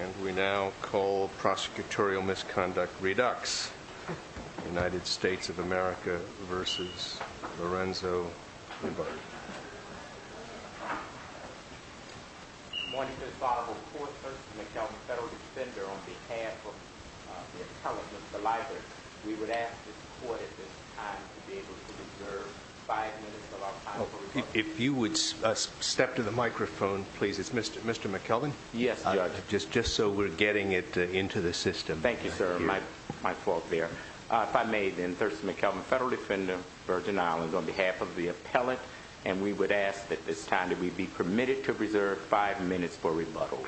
And we now call prosecutorial misconduct Redux. United States of America versus Lorenzo Liburd. Good morning. This is Barbara Forthurst. I'm a federal defender on behalf of the intelligence, the library. We would ask the court at this time to be able to reserve five minutes of our time. If you would step to the microphone, please. It's Mr. McKelvin. Yes, judge. Just so we're getting it into the system. Thank you, sir. My fault there. If I may, then, Thurston McKelvin, federal defender, Virgin Islands, on behalf of the appellate. And we would ask at this time that we be permitted to reserve five minutes for rebuttal.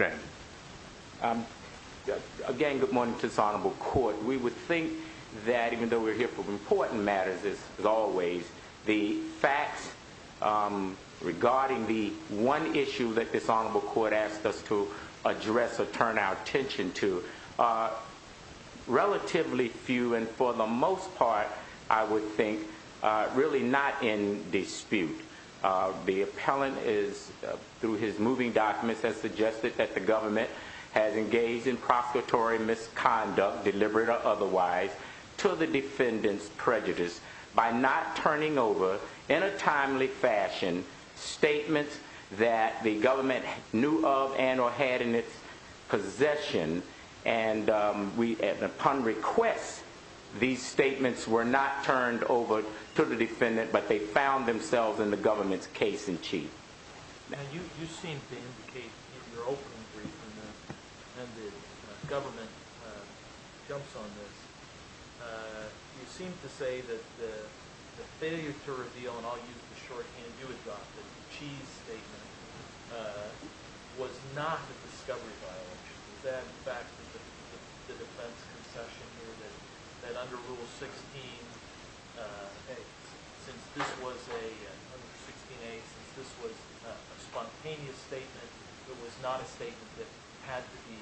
Again, good morning to this honorable court. We would think that even though we're here for important matters, as always, the facts regarding the one issue that this honorable court asked us to address or turn our attention to are relatively few. And for the most part, I would think really not in dispute. The appellant, through his moving documents, has suggested that the government has engaged in prosecutory misconduct, deliberate or otherwise, to the defendant's prejudice by not turning over, in a timely fashion, statements that the government knew of and or had in its possession. And upon request, these statements were not turned over to the defendant, but they found themselves in the government's case in chief. You seem to indicate in your opening brief, and the government jumps on this, you seem to say that the failure to reveal, and I'll use the shorthand you adopted, the cheese statement, was not a discovery violation. Is that in fact the defense concession here, that under Rule 16A, since this was a spontaneous statement, it was not a statement that had to be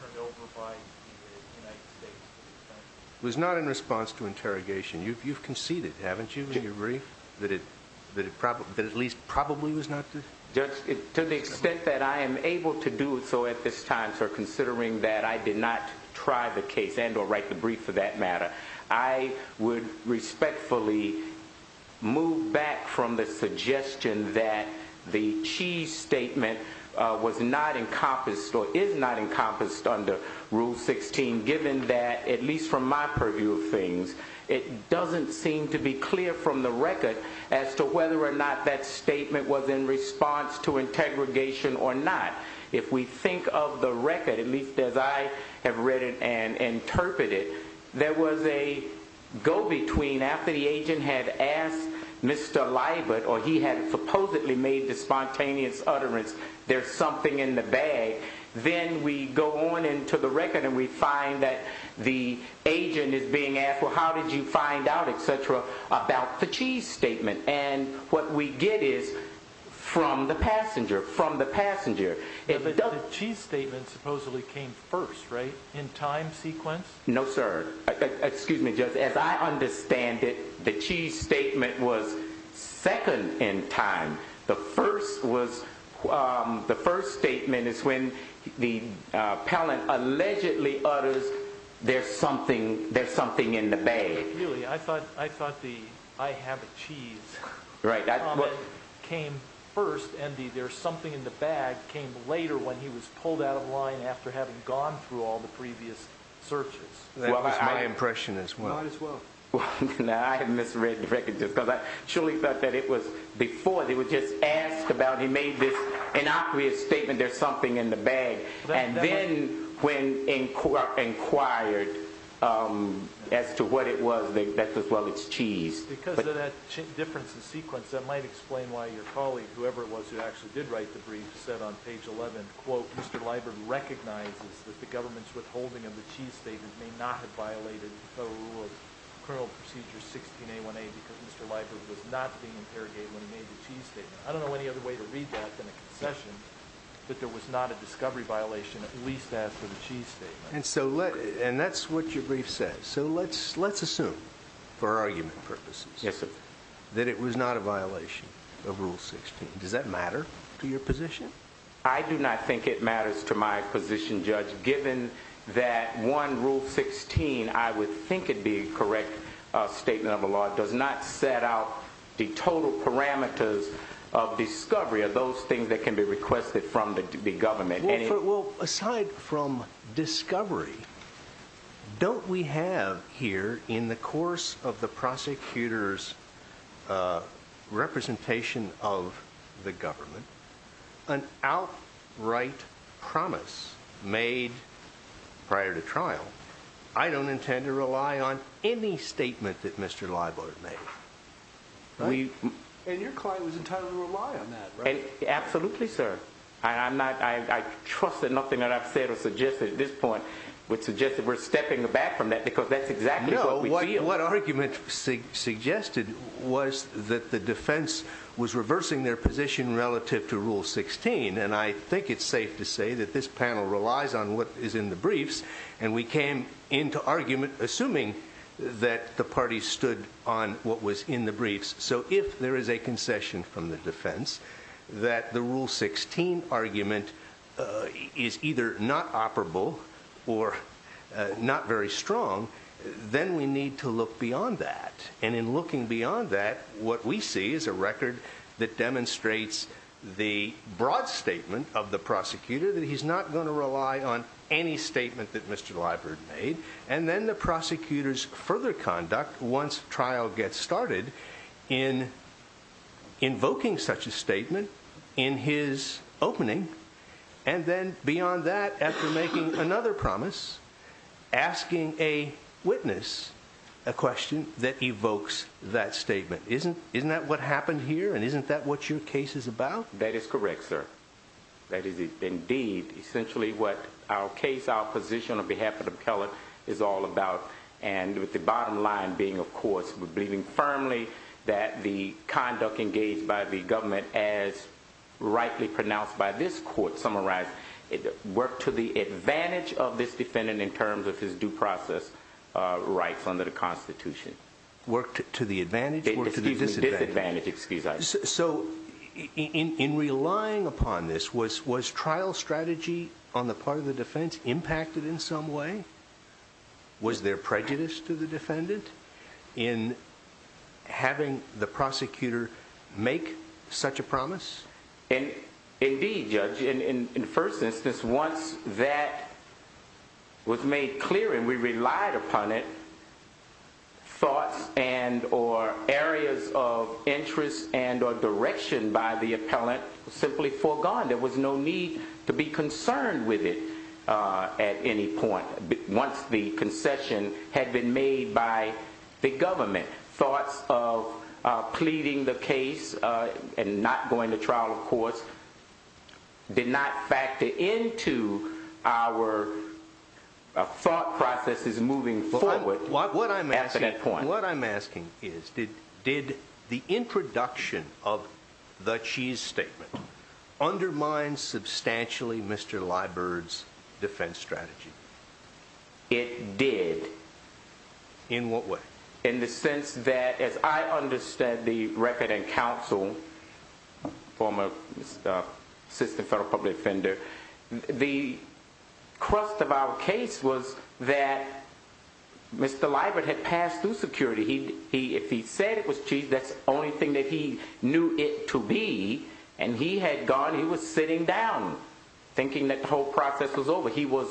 turned over by the United States? It was not in response to interrogation. You've conceded, haven't you, in your brief, that it at least probably was not? To the extent that I am able to do so at this time, sir, considering that I did not try the case and or write the brief for that matter, I would respectfully move back from the suggestion that the cheese statement was not encompassed or is not encompassed under Rule 16, given that, at least from my purview of things, it doesn't seem to be clear from the record as to whether or not that statement was in response to interrogation or not. If we think of the record, at least as I have read it and interpreted, there was a go-between after the agent had asked Mr. Liburd, or he had supposedly made the spontaneous utterance, there's something in the bag, then we go on into the record and we find that the agent is being asked, well, how did you find out, etc., about the cheese statement? And what we get is from the passenger, from the passenger. The cheese statement supposedly came first, right? In time sequence? No, sir. Excuse me, Judge, as I understand it, the cheese statement was second in time. The first statement is when the appellant allegedly utters, there's something in the bag. Really, I thought the I have a cheese comment came first and the there's something in the bag came later when he was pulled out of line after having gone through all the previous searches. That was my impression as well. Might as well. I have misread the record just because I surely thought that it was before. They were just asked about, he made this innocuous statement, there's something in the bag, and then when inquired as to what it was, they said, well, it's cheese. Because of that difference in sequence, that might explain why your colleague, whoever it was who actually did write the brief, said on page 11, quote, Mr. Liburd recognizes that the government's withholding of the cheese statement may not have violated the Federal Rule of Criminal Procedure 16A1A because Mr. Liburd was not being interrogated when he made the cheese statement. I don't know any other way to read that than a concession that there was not a discovery violation at least after the cheese statement. And that's what your brief says. So let's assume for argument purposes that it was not a violation of Rule 16. Does that matter to your position? I do not think it matters to my position, Judge, given that one Rule 16, I would think it'd be a correct statement of the law, does not set out the total parameters of discovery or those things that can be requested from the government. Well, aside from discovery, don't we have here in the course of the prosecutor's representation of the government an outright promise made prior to trial? I don't intend to rely on any statement that Mr. Liburd made. And your client was entitled to rely on that, right? Absolutely, sir. I trust that nothing that I've said or suggested at this point would suggest that we're stepping back from that because that's exactly what we feel. No, what argument suggested was that the defense was reversing their position relative to Rule 16. And I think it's safe to say that this panel relies on what is in the briefs. And we came into argument assuming that the parties stood on what was in the briefs. So if there is a concession from the defense that the Rule 16 argument is either not operable or not very strong, then we need to look beyond that. And in looking beyond that, what we see is a record that demonstrates the broad statement of the prosecutor that he's not going to rely on any statement that Mr. Liburd made. And then the prosecutor's further conduct once trial gets started in invoking such a statement in his opening. And then beyond that, after making another promise, asking a witness a question that evokes that statement. Isn't that what happened here? And isn't that what your case is about? That is correct, sir. That is indeed essentially what our case, our position on behalf of the appellate is all about. And with the bottom line being, of course, we're believing firmly that the conduct engaged by the government as rightly pronounced by this court summarized, it worked to the advantage of this defendant in terms of his due process rights under the Constitution. Worked to the advantage? Worked to the disadvantage. Excuse me, disadvantage. Excuse I. So in relying upon this, was trial strategy on the part of the defense impacted in some way? Was there prejudice to the defendant in having the prosecutor make such a promise? Indeed, Judge. In the first instance, once that was made clear and we relied upon it, thoughts and or areas of interest and or direction by the appellant simply foregone. There was no need to be concerned with it at any point. Once the concession had been made by the government, thoughts of pleading the case and not going to trial, of course, did not factor into our thought processes moving forward. What I'm asking is, did the introduction of the cheese statement undermine substantially Mr. Liburd's defense strategy? It did. In what way? In the sense that, as I understand the record and counsel, former assistant federal public defender, the crust of our case was that Mr. Liburd had passed through security. If he said it was cheese, that's the only thing that he knew it to be. And he had gone, he was sitting down thinking that the whole process was over. He was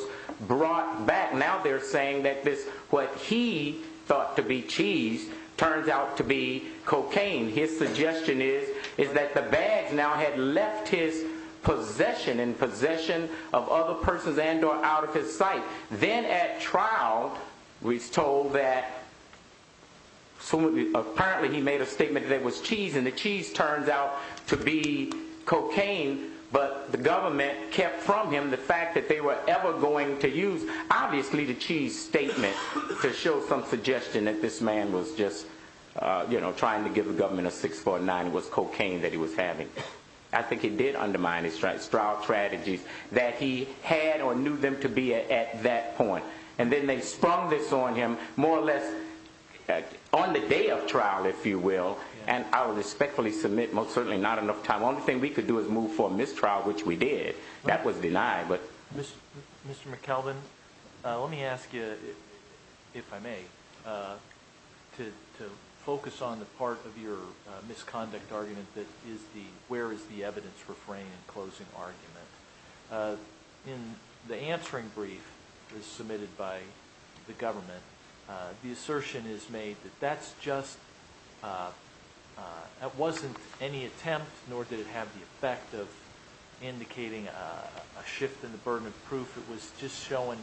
brought back. Now they're saying that what he thought to be cheese turns out to be cocaine. His suggestion is that the bags now had left his possession and possession of other persons and or out of his sight. Then at trial, we're told that apparently he made a statement that it was cheese, and the cheese turns out to be cocaine. But the government kept from him the fact that they were ever going to use, obviously, the cheese statement to show some suggestion that this man was just trying to give the government a 649. It was cocaine that he was having. I think he did undermine his trial strategies that he had or knew them to be at that point. And then they sprung this on him more or less on the day of trial, if you will. And I will respectfully submit most certainly not enough time. The only thing we could do is move for mistrial, which we did. That was denied. Mr. McKelvin, let me ask you, if I may, to focus on the part of your misconduct argument that is the where is the evidence refraining and closing argument. In the answering brief submitted by the government, the assertion is made that that's just that wasn't any attempt, nor did it have the effect of indicating a shift in the burden of proof. It was just showing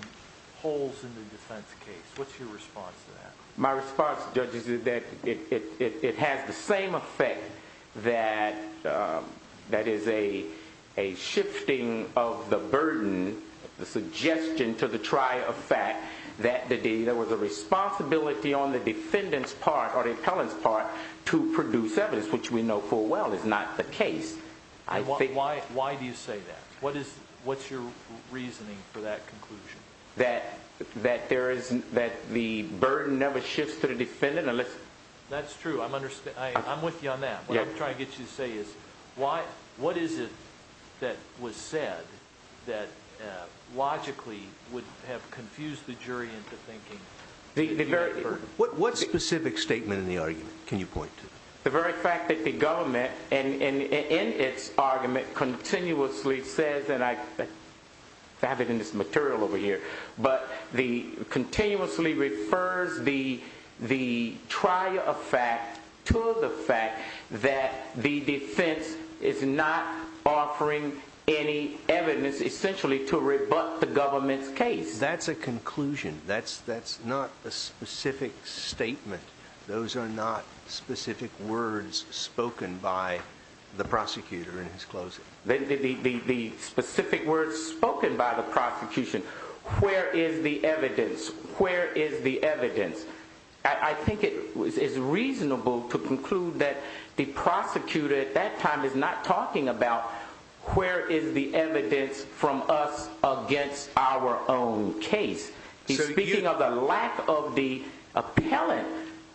holes in the defense case. What's your response to that? My response, judges, is that it has the same effect that is a shifting of the burden, the suggestion to the trial of fact that there was a responsibility on the defendant's part or the appellant's part to produce evidence, which we know full well is not the case. Why do you say that? What's your reasoning for that conclusion? That there isn't that the burden never shifts to the defendant unless that's true. I'm understand. I'm with you on that. I'm trying to get you to say is why? What is it that was said that logically would have confused the jury into thinking the very what specific statement in the argument? The very fact that the government and in its argument continuously says that I have it in this material over here, but the continuously refers the the trial of fact to the fact that the defense is not offering any evidence essentially to rebut the government's case. That's a conclusion. That's that's not a specific statement. Those are not specific words spoken by the prosecutor in his closing, the specific words spoken by the prosecution. Where is the evidence? Where is the evidence? I think it is reasonable to conclude that the prosecutor at that time is not talking about where is the evidence from us against our own case? He's speaking of the lack of the appellate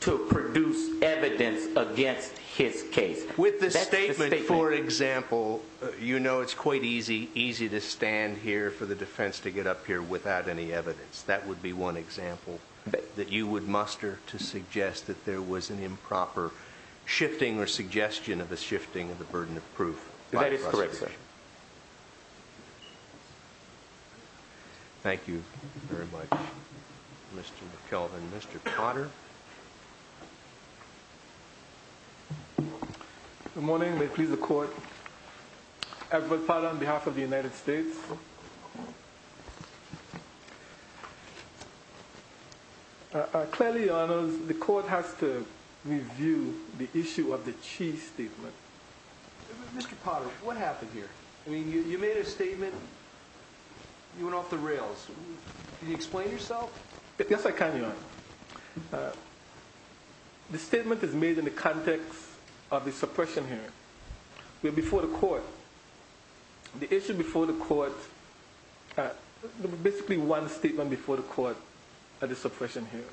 to produce evidence against his case with the statement. For example, you know, it's quite easy, easy to stand here for the defense to get up here without any evidence. That would be one example that you would muster to suggest that there was an improper shifting or suggestion of the shifting of the burden of proof. That is correct. Thank you. Thank you very much. Mr. McKelvin, Mr. Potter. Good morning. May please the court. Edward Potter on behalf of the United States. Clearly, the court has to review the issue of the chief statement. Mr. Potter, what happened here? I mean, you made a statement, you went off the rails. Can you explain yourself? Yes, I can, Your Honor. The statement is made in the context of the suppression hearing. Before the court, the issue before the court, basically one statement before the court at the suppression hearing.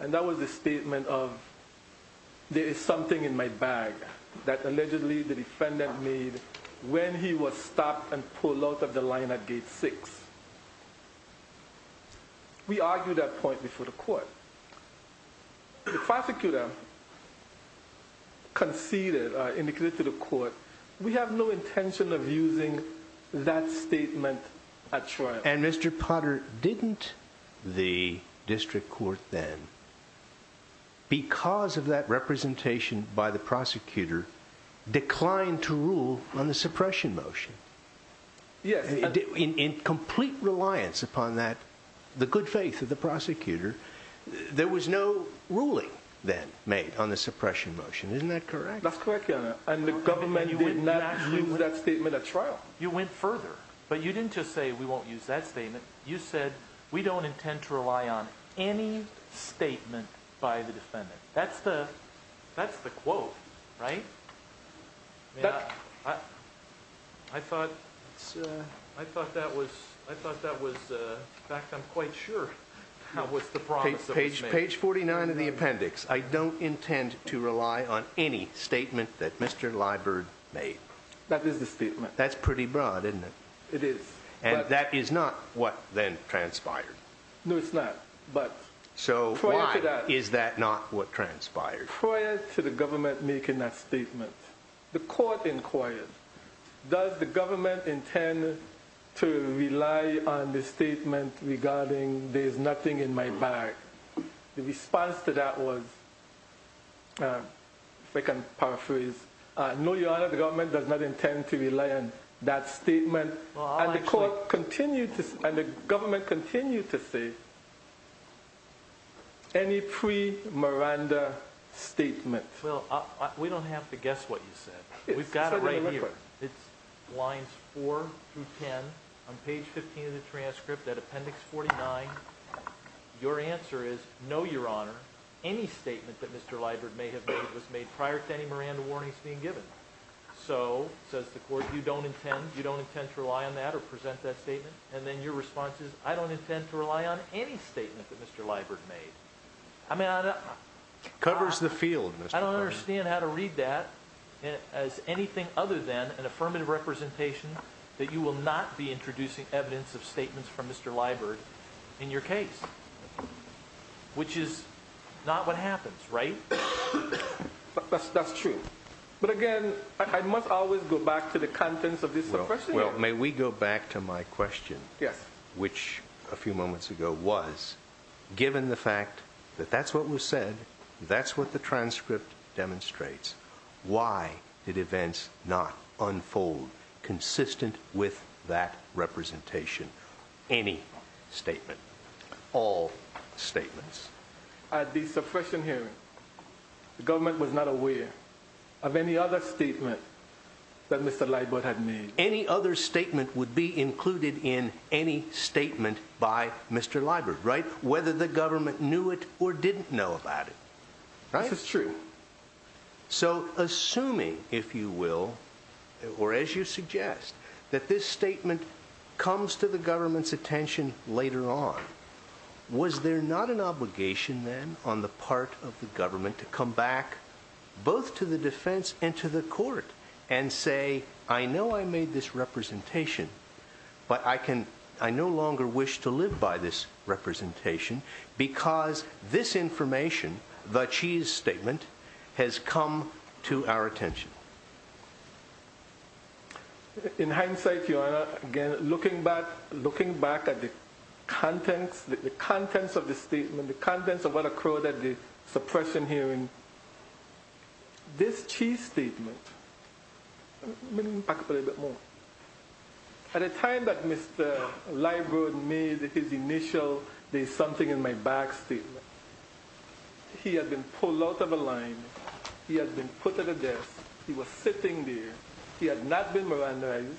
And that was the statement of, there is something in my bag that allegedly the defendant made when he was stopped and pulled out of the line at gate six. We argued that point before the court. The prosecutor conceded, indicated to the court, we have no intention of using that statement at trial. And Mr. Potter, didn't the district court then, because of that representation by the prosecutor, declined to rule on the suppression motion? Yes. In complete reliance upon that, the good faith of the prosecutor, there was no ruling then made on the suppression motion. Isn't that correct? That's correct, Your Honor. And the government did not use that statement at trial. You went further. But you didn't just say, we won't use that statement. You said, we don't intend to rely on any statement by the defendant. That's the quote, right? I thought that was, in fact, I'm quite sure that was the promise that was made. Page 49 of the appendix. I don't intend to rely on any statement that Mr. Liburd made. That is the statement. That's pretty broad, isn't it? It is. And that is not what then transpired. No, it's not. So why is that not what transpired? Prior to the government making that statement, the court inquired, does the government intend to rely on the statement regarding there's nothing in my bag? The response to that was, if I can paraphrase, no, Your Honor, the government does not intend to rely on that statement. And the court continued to, and the government continued to say, any pre-Miranda statement. Well, we don't have to guess what you said. We've got it right here. It's lines 4 through 10 on page 15 of the transcript, that appendix 49. Your answer is, no, Your Honor. Any statement that Mr. Liburd may have made was made prior to any Miranda warnings being given. So, says the court, you don't intend to rely on that or present that statement? And then your response is, I don't intend to rely on any statement that Mr. Liburd made. I mean, I don't... It covers the field, Mr. Covington. I don't understand how to read that as anything other than an affirmative representation that you will not be introducing evidence of statements from Mr. Liburd in your case. Which is not what happens, right? That's true. But, again, I must always go back to the contents of this question. Well, may we go back to my question? Yes. Which, a few moments ago, was, given the fact that that's what was said, that's what the transcript demonstrates, why did events not unfold consistent with that representation? Any statement. All statements. At the suppression hearing, the government was not aware of any other statement that Mr. Liburd had made. Any other statement would be included in any statement by Mr. Liburd, right? Whether the government knew it or didn't know about it. That's true. So, assuming, if you will, or as you suggest, that this statement comes to the government's attention later on, was there not an obligation, then, on the part of the government to come back, both to the defense and to the court, and say, I know I made this representation, but I no longer wish to live by this representation, because this information, the cheese statement, has come to our attention? In hindsight, Your Honor, again, looking back at the contents of the statement, the contents of what occurred at the suppression hearing, this cheese statement, let me back up a little bit more. At the time that Mr. Liburd made his initial, there's something in my bag, statement, he had been pulled out of a line, he had been put at a desk, he was sitting there, he had not been mirandized,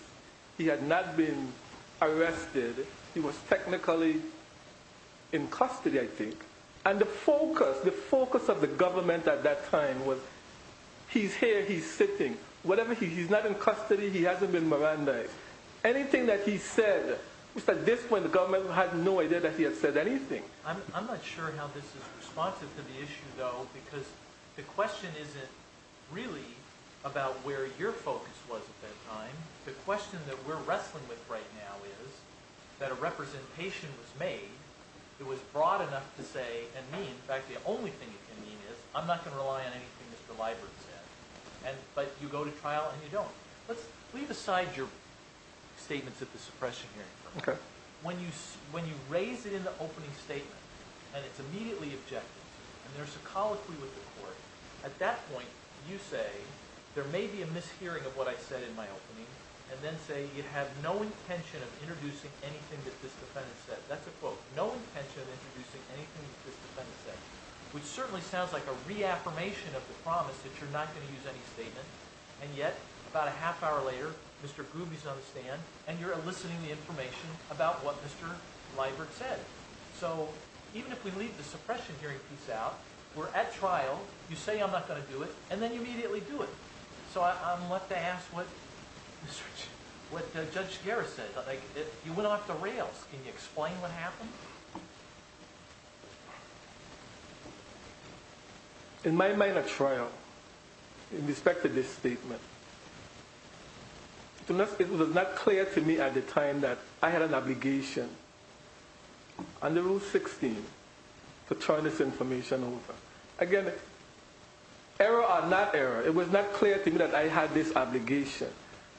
he had not been arrested, he was technically in custody, I think. And the focus, the focus of the government at that time was, he's here, he's sitting. Whatever, he's not in custody, he hasn't been mirandized. Anything that he said, at this point, the government had no idea that he had said anything. I'm not sure how this is responsive to the issue, though, because the question isn't really about where your focus was at that time. The question that we're wrestling with right now is that a representation was made that was broad enough to say, and me, in fact, the only thing it can mean is, I'm not going to rely on anything Mr. Liburd said. But you go to trial and you don't. Let's leave aside your statements at the suppression hearing. Okay. When you raise it in the opening statement and it's immediately objected, and there's a colloquy with the court, at that point you say, there may be a mishearing of what I said in my opening, and then say you have no intention of introducing anything that this defendant said. That's a quote. No intention of introducing anything that this defendant said, which certainly sounds like a reaffirmation of the promise that you're not going to use any statement, and yet about a half hour later Mr. Gruby's on the stand and you're eliciting the information about what Mr. Liburd said. So even if we leave the suppression hearing piece out, we're at trial, you say I'm not going to do it, and then you immediately do it. So I'm left to ask what Judge Guerra said. You went off the rails. Can you explain what happened? In my minor trial, in respect to this statement, it was not clear to me at the time that I had an obligation under Rule 16 to turn this information over. Again, error or not error, it was not clear to me that I had this obligation.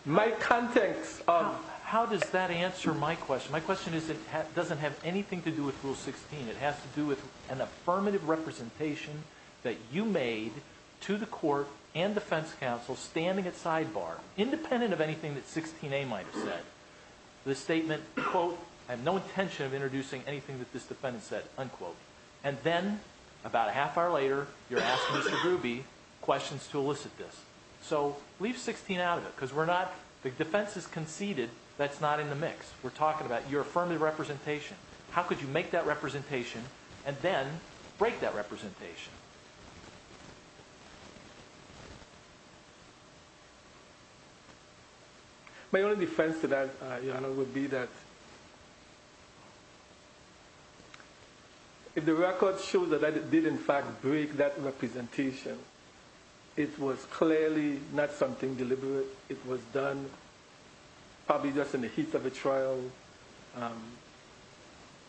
My context of- How does that answer my question? My question is it doesn't have anything to do with Rule 16. It has to do with an affirmative representation that you made to the court and defense counsel standing at sidebar, independent of anything that 16A might have said. The statement, quote, I have no intention of introducing anything that this defendant said, unquote. And then about a half hour later you're asking Mr. Gruby questions to elicit this. So leave 16 out of it because we're not- We're talking about your affirmative representation. How could you make that representation and then break that representation? My only defense to that, Your Honor, would be that if the record shows that I did in fact break that representation, it was clearly not something deliberate. It was done probably just in the heat of a trial.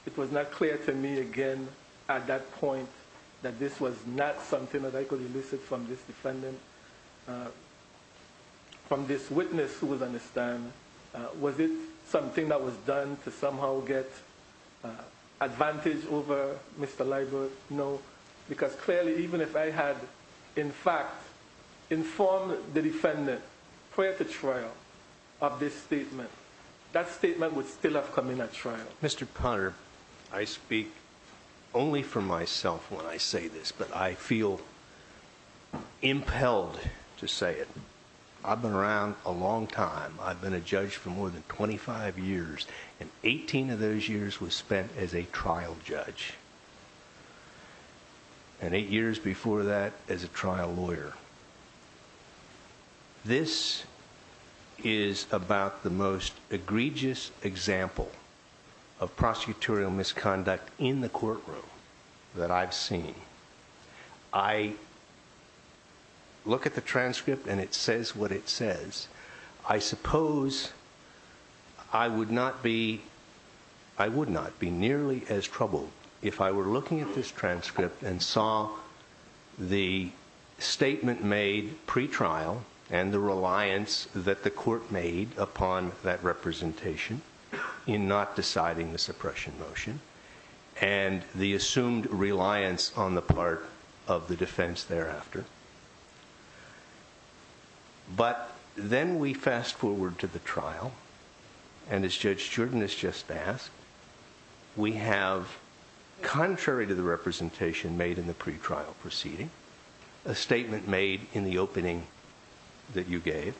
It was not clear to me, again, at that point that this was not something that I could elicit from this defendant, from this witness who would understand. Was it something that was done to somehow get advantage over Mr. Liburd? No, because clearly even if I had in fact informed the defendant prior to trial of this statement, that statement would still have come in at trial. Mr. Potter, I speak only for myself when I say this, but I feel impelled to say it. I've been around a long time. I've been a judge for more than 25 years, and 18 of those years was spent as a trial judge. And eight years before that as a trial lawyer. This is about the most egregious example of prosecutorial misconduct in the courtroom that I've seen. I look at the transcript, and it says what it says. I suppose I would not be nearly as troubled if I were looking at this transcript and saw the statement made pretrial and the reliance that the court made upon that representation in not deciding the suppression motion, and the assumed reliance on the part of the defense thereafter. But then we fast forward to the trial, and as Judge Jordan has just asked, we have contrary to the representation made in the pretrial proceeding, a statement made in the opening that you gave,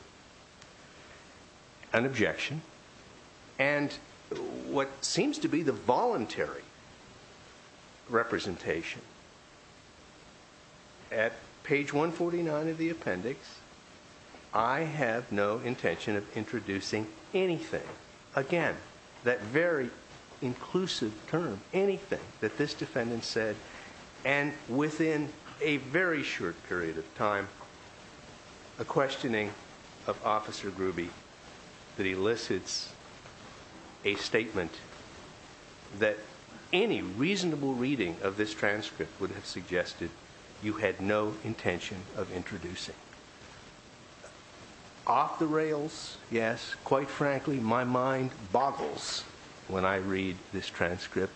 an objection, and what seems to be the voluntary representation. At page 149 of the appendix, I have no intention of introducing anything. Again, that very inclusive term, anything that this defendant said, and within a very short period of time, a questioning of Officer Gruby that elicits a statement that any reasonable reading of this transcript would have suggested you had no intention of introducing. Off the rails, yes, quite frankly, my mind boggles when I read this transcript,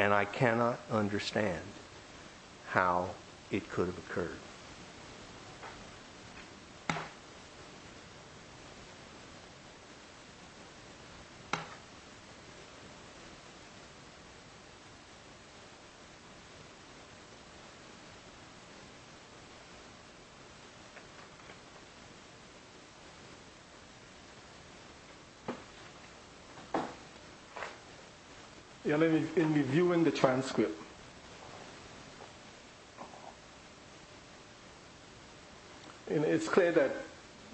and I cannot understand how it could have occurred. Let me review the transcript. It's clear that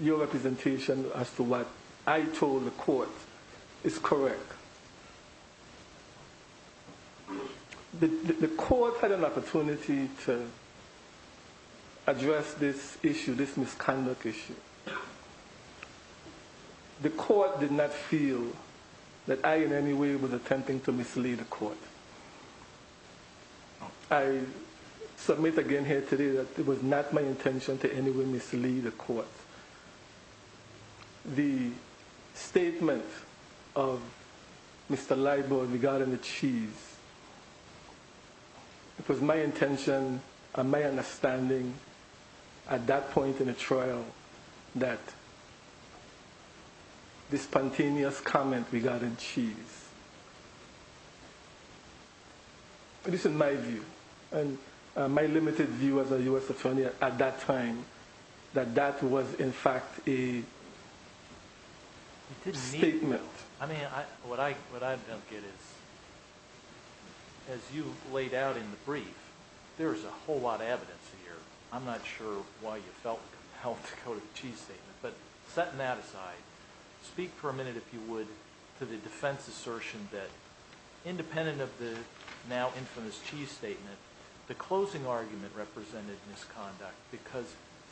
your representation as to what I told the court is correct. The court had an opportunity to address this issue, this misconduct issue. The court did not feel that I in any way was attempting to mislead the court. I submit again here today that it was not my intention to in any way mislead the court. The statement of Mr. Libor regarding the cheese, it was my intention and my understanding at that point in the trial that this spontaneous comment regarding cheese, this is my view, and my limited view as a U.S. attorney at that time that that was in fact a statement. I mean, what I don't get is, as you laid out in the brief, there is a whole lot of evidence here. I'm not sure why you felt compelled to go to the cheese statement, but setting that aside, speak for a minute, if you would, to the defense assertion that independent of the now infamous cheese statement, the closing argument represented misconduct because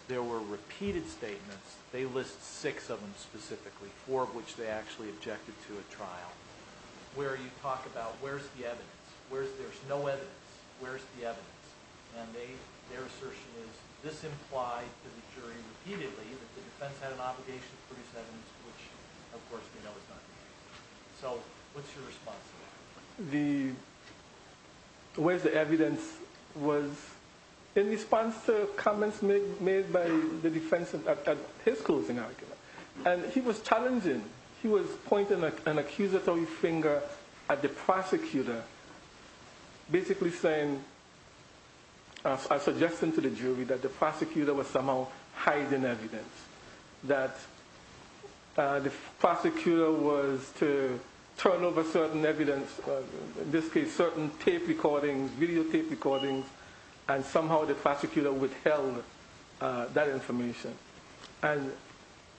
there were repeated statements. They list six of them specifically, four of which they actually objected to at trial, where you talk about where's the evidence, where's there's no evidence, where's the evidence, and their assertion is this implied to the jury repeatedly that the defense had an obligation to produce evidence, which of course we know was not the case. So what's your response to that? The where's the evidence was in response to comments made by the defense at his closing argument. And he was challenging. He was pointing an accusatory finger at the prosecutor, basically saying, suggesting to the jury that the prosecutor was somehow hiding evidence, that the prosecutor was to turn over certain evidence, in this case certain tape recordings, videotape recordings, and somehow the prosecutor withheld that information. And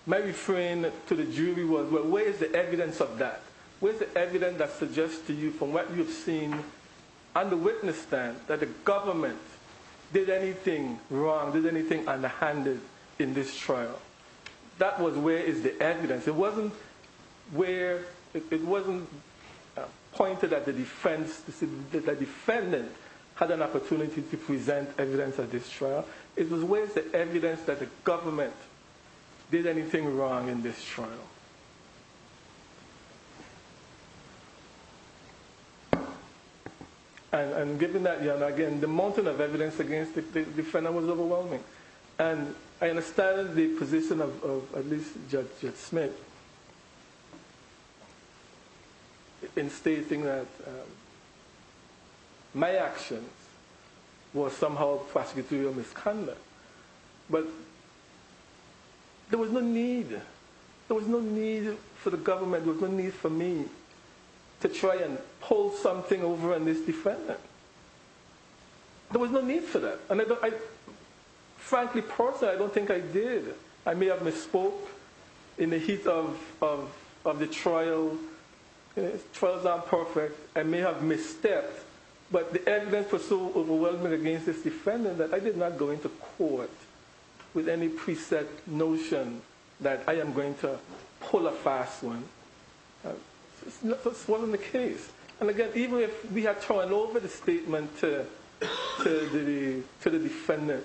my refrain to the jury was, well, where is the evidence of that? Where's the evidence that suggests to you from what you've seen, under witness stand, that the government did anything wrong, did anything unhanded in this trial? That was where is the evidence. It wasn't where, it wasn't pointed at the defense, that the defendant had an opportunity to present evidence at this trial. It was where is the evidence that the government did anything wrong in this trial? And given that, again, the mountain of evidence against the defendant was overwhelming. And I understand the position of at least Judge Smith in stating that my actions were somehow prosecutorial misconduct. But there was no need, there was no need for the government, there was no need for me to try and pull something over on this defendant. There was no need for that. Frankly, personally, I don't think I did. I may have misspoke in the heat of the trial. Trials aren't perfect. I may have misstepped. But the evidence was so overwhelming against this defendant that I did not go into court with any preset notion that I am going to pull a fast one. That's what's in the case. And again, even if we had thrown over the statement to the defendant,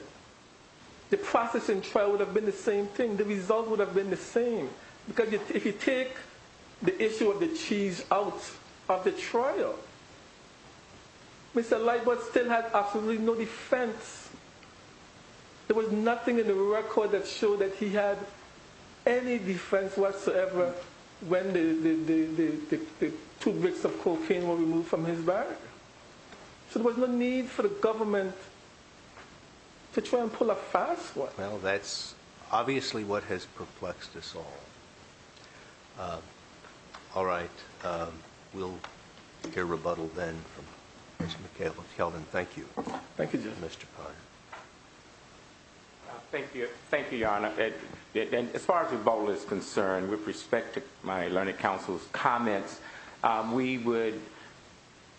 the processing trial would have been the same thing. The result would have been the same. Because if you take the issue of the cheese out of the trial, Mr. Lightwood still had absolutely no defense. There was nothing in the record that showed that he had any defense whatsoever when the two bricks of cocaine were removed from his bag. So there was no need for the government to try and pull a fast one. Well, that's obviously what has perplexed us all. All right. We'll hear rebuttal then from Mr. McKelvin. Mr. McKelvin, thank you. Thank you, Your Honor. As far as the vote is concerned, with respect to my learning counsel's comments, we would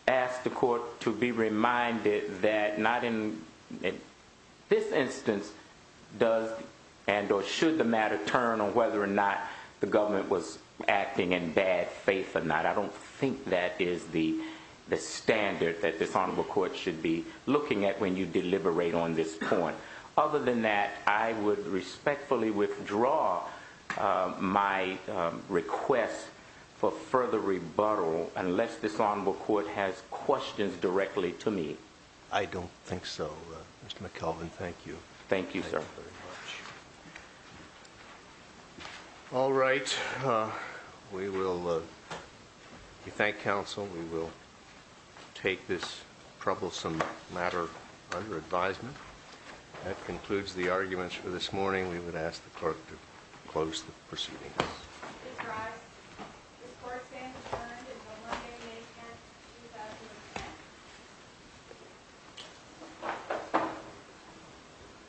ask the court to be reminded that not in this instance does and or should the matter turn on whether or not the government was acting in bad faith or not. I don't think that is the standard that this Honorable Court should be looking at when you deliberate on this point. Other than that, I would respectfully withdraw my request for further rebuttal unless this Honorable Court has questions directly to me. I don't think so. Mr. McKelvin, thank you. Thank you, sir. Thank you very much. All right. We will thank counsel. We will take this troublesome matter under advisement. That concludes the arguments for this morning. We would ask the court to close the proceedings. Please rise. This court stands adjourned until Monday, May 10th, 2010.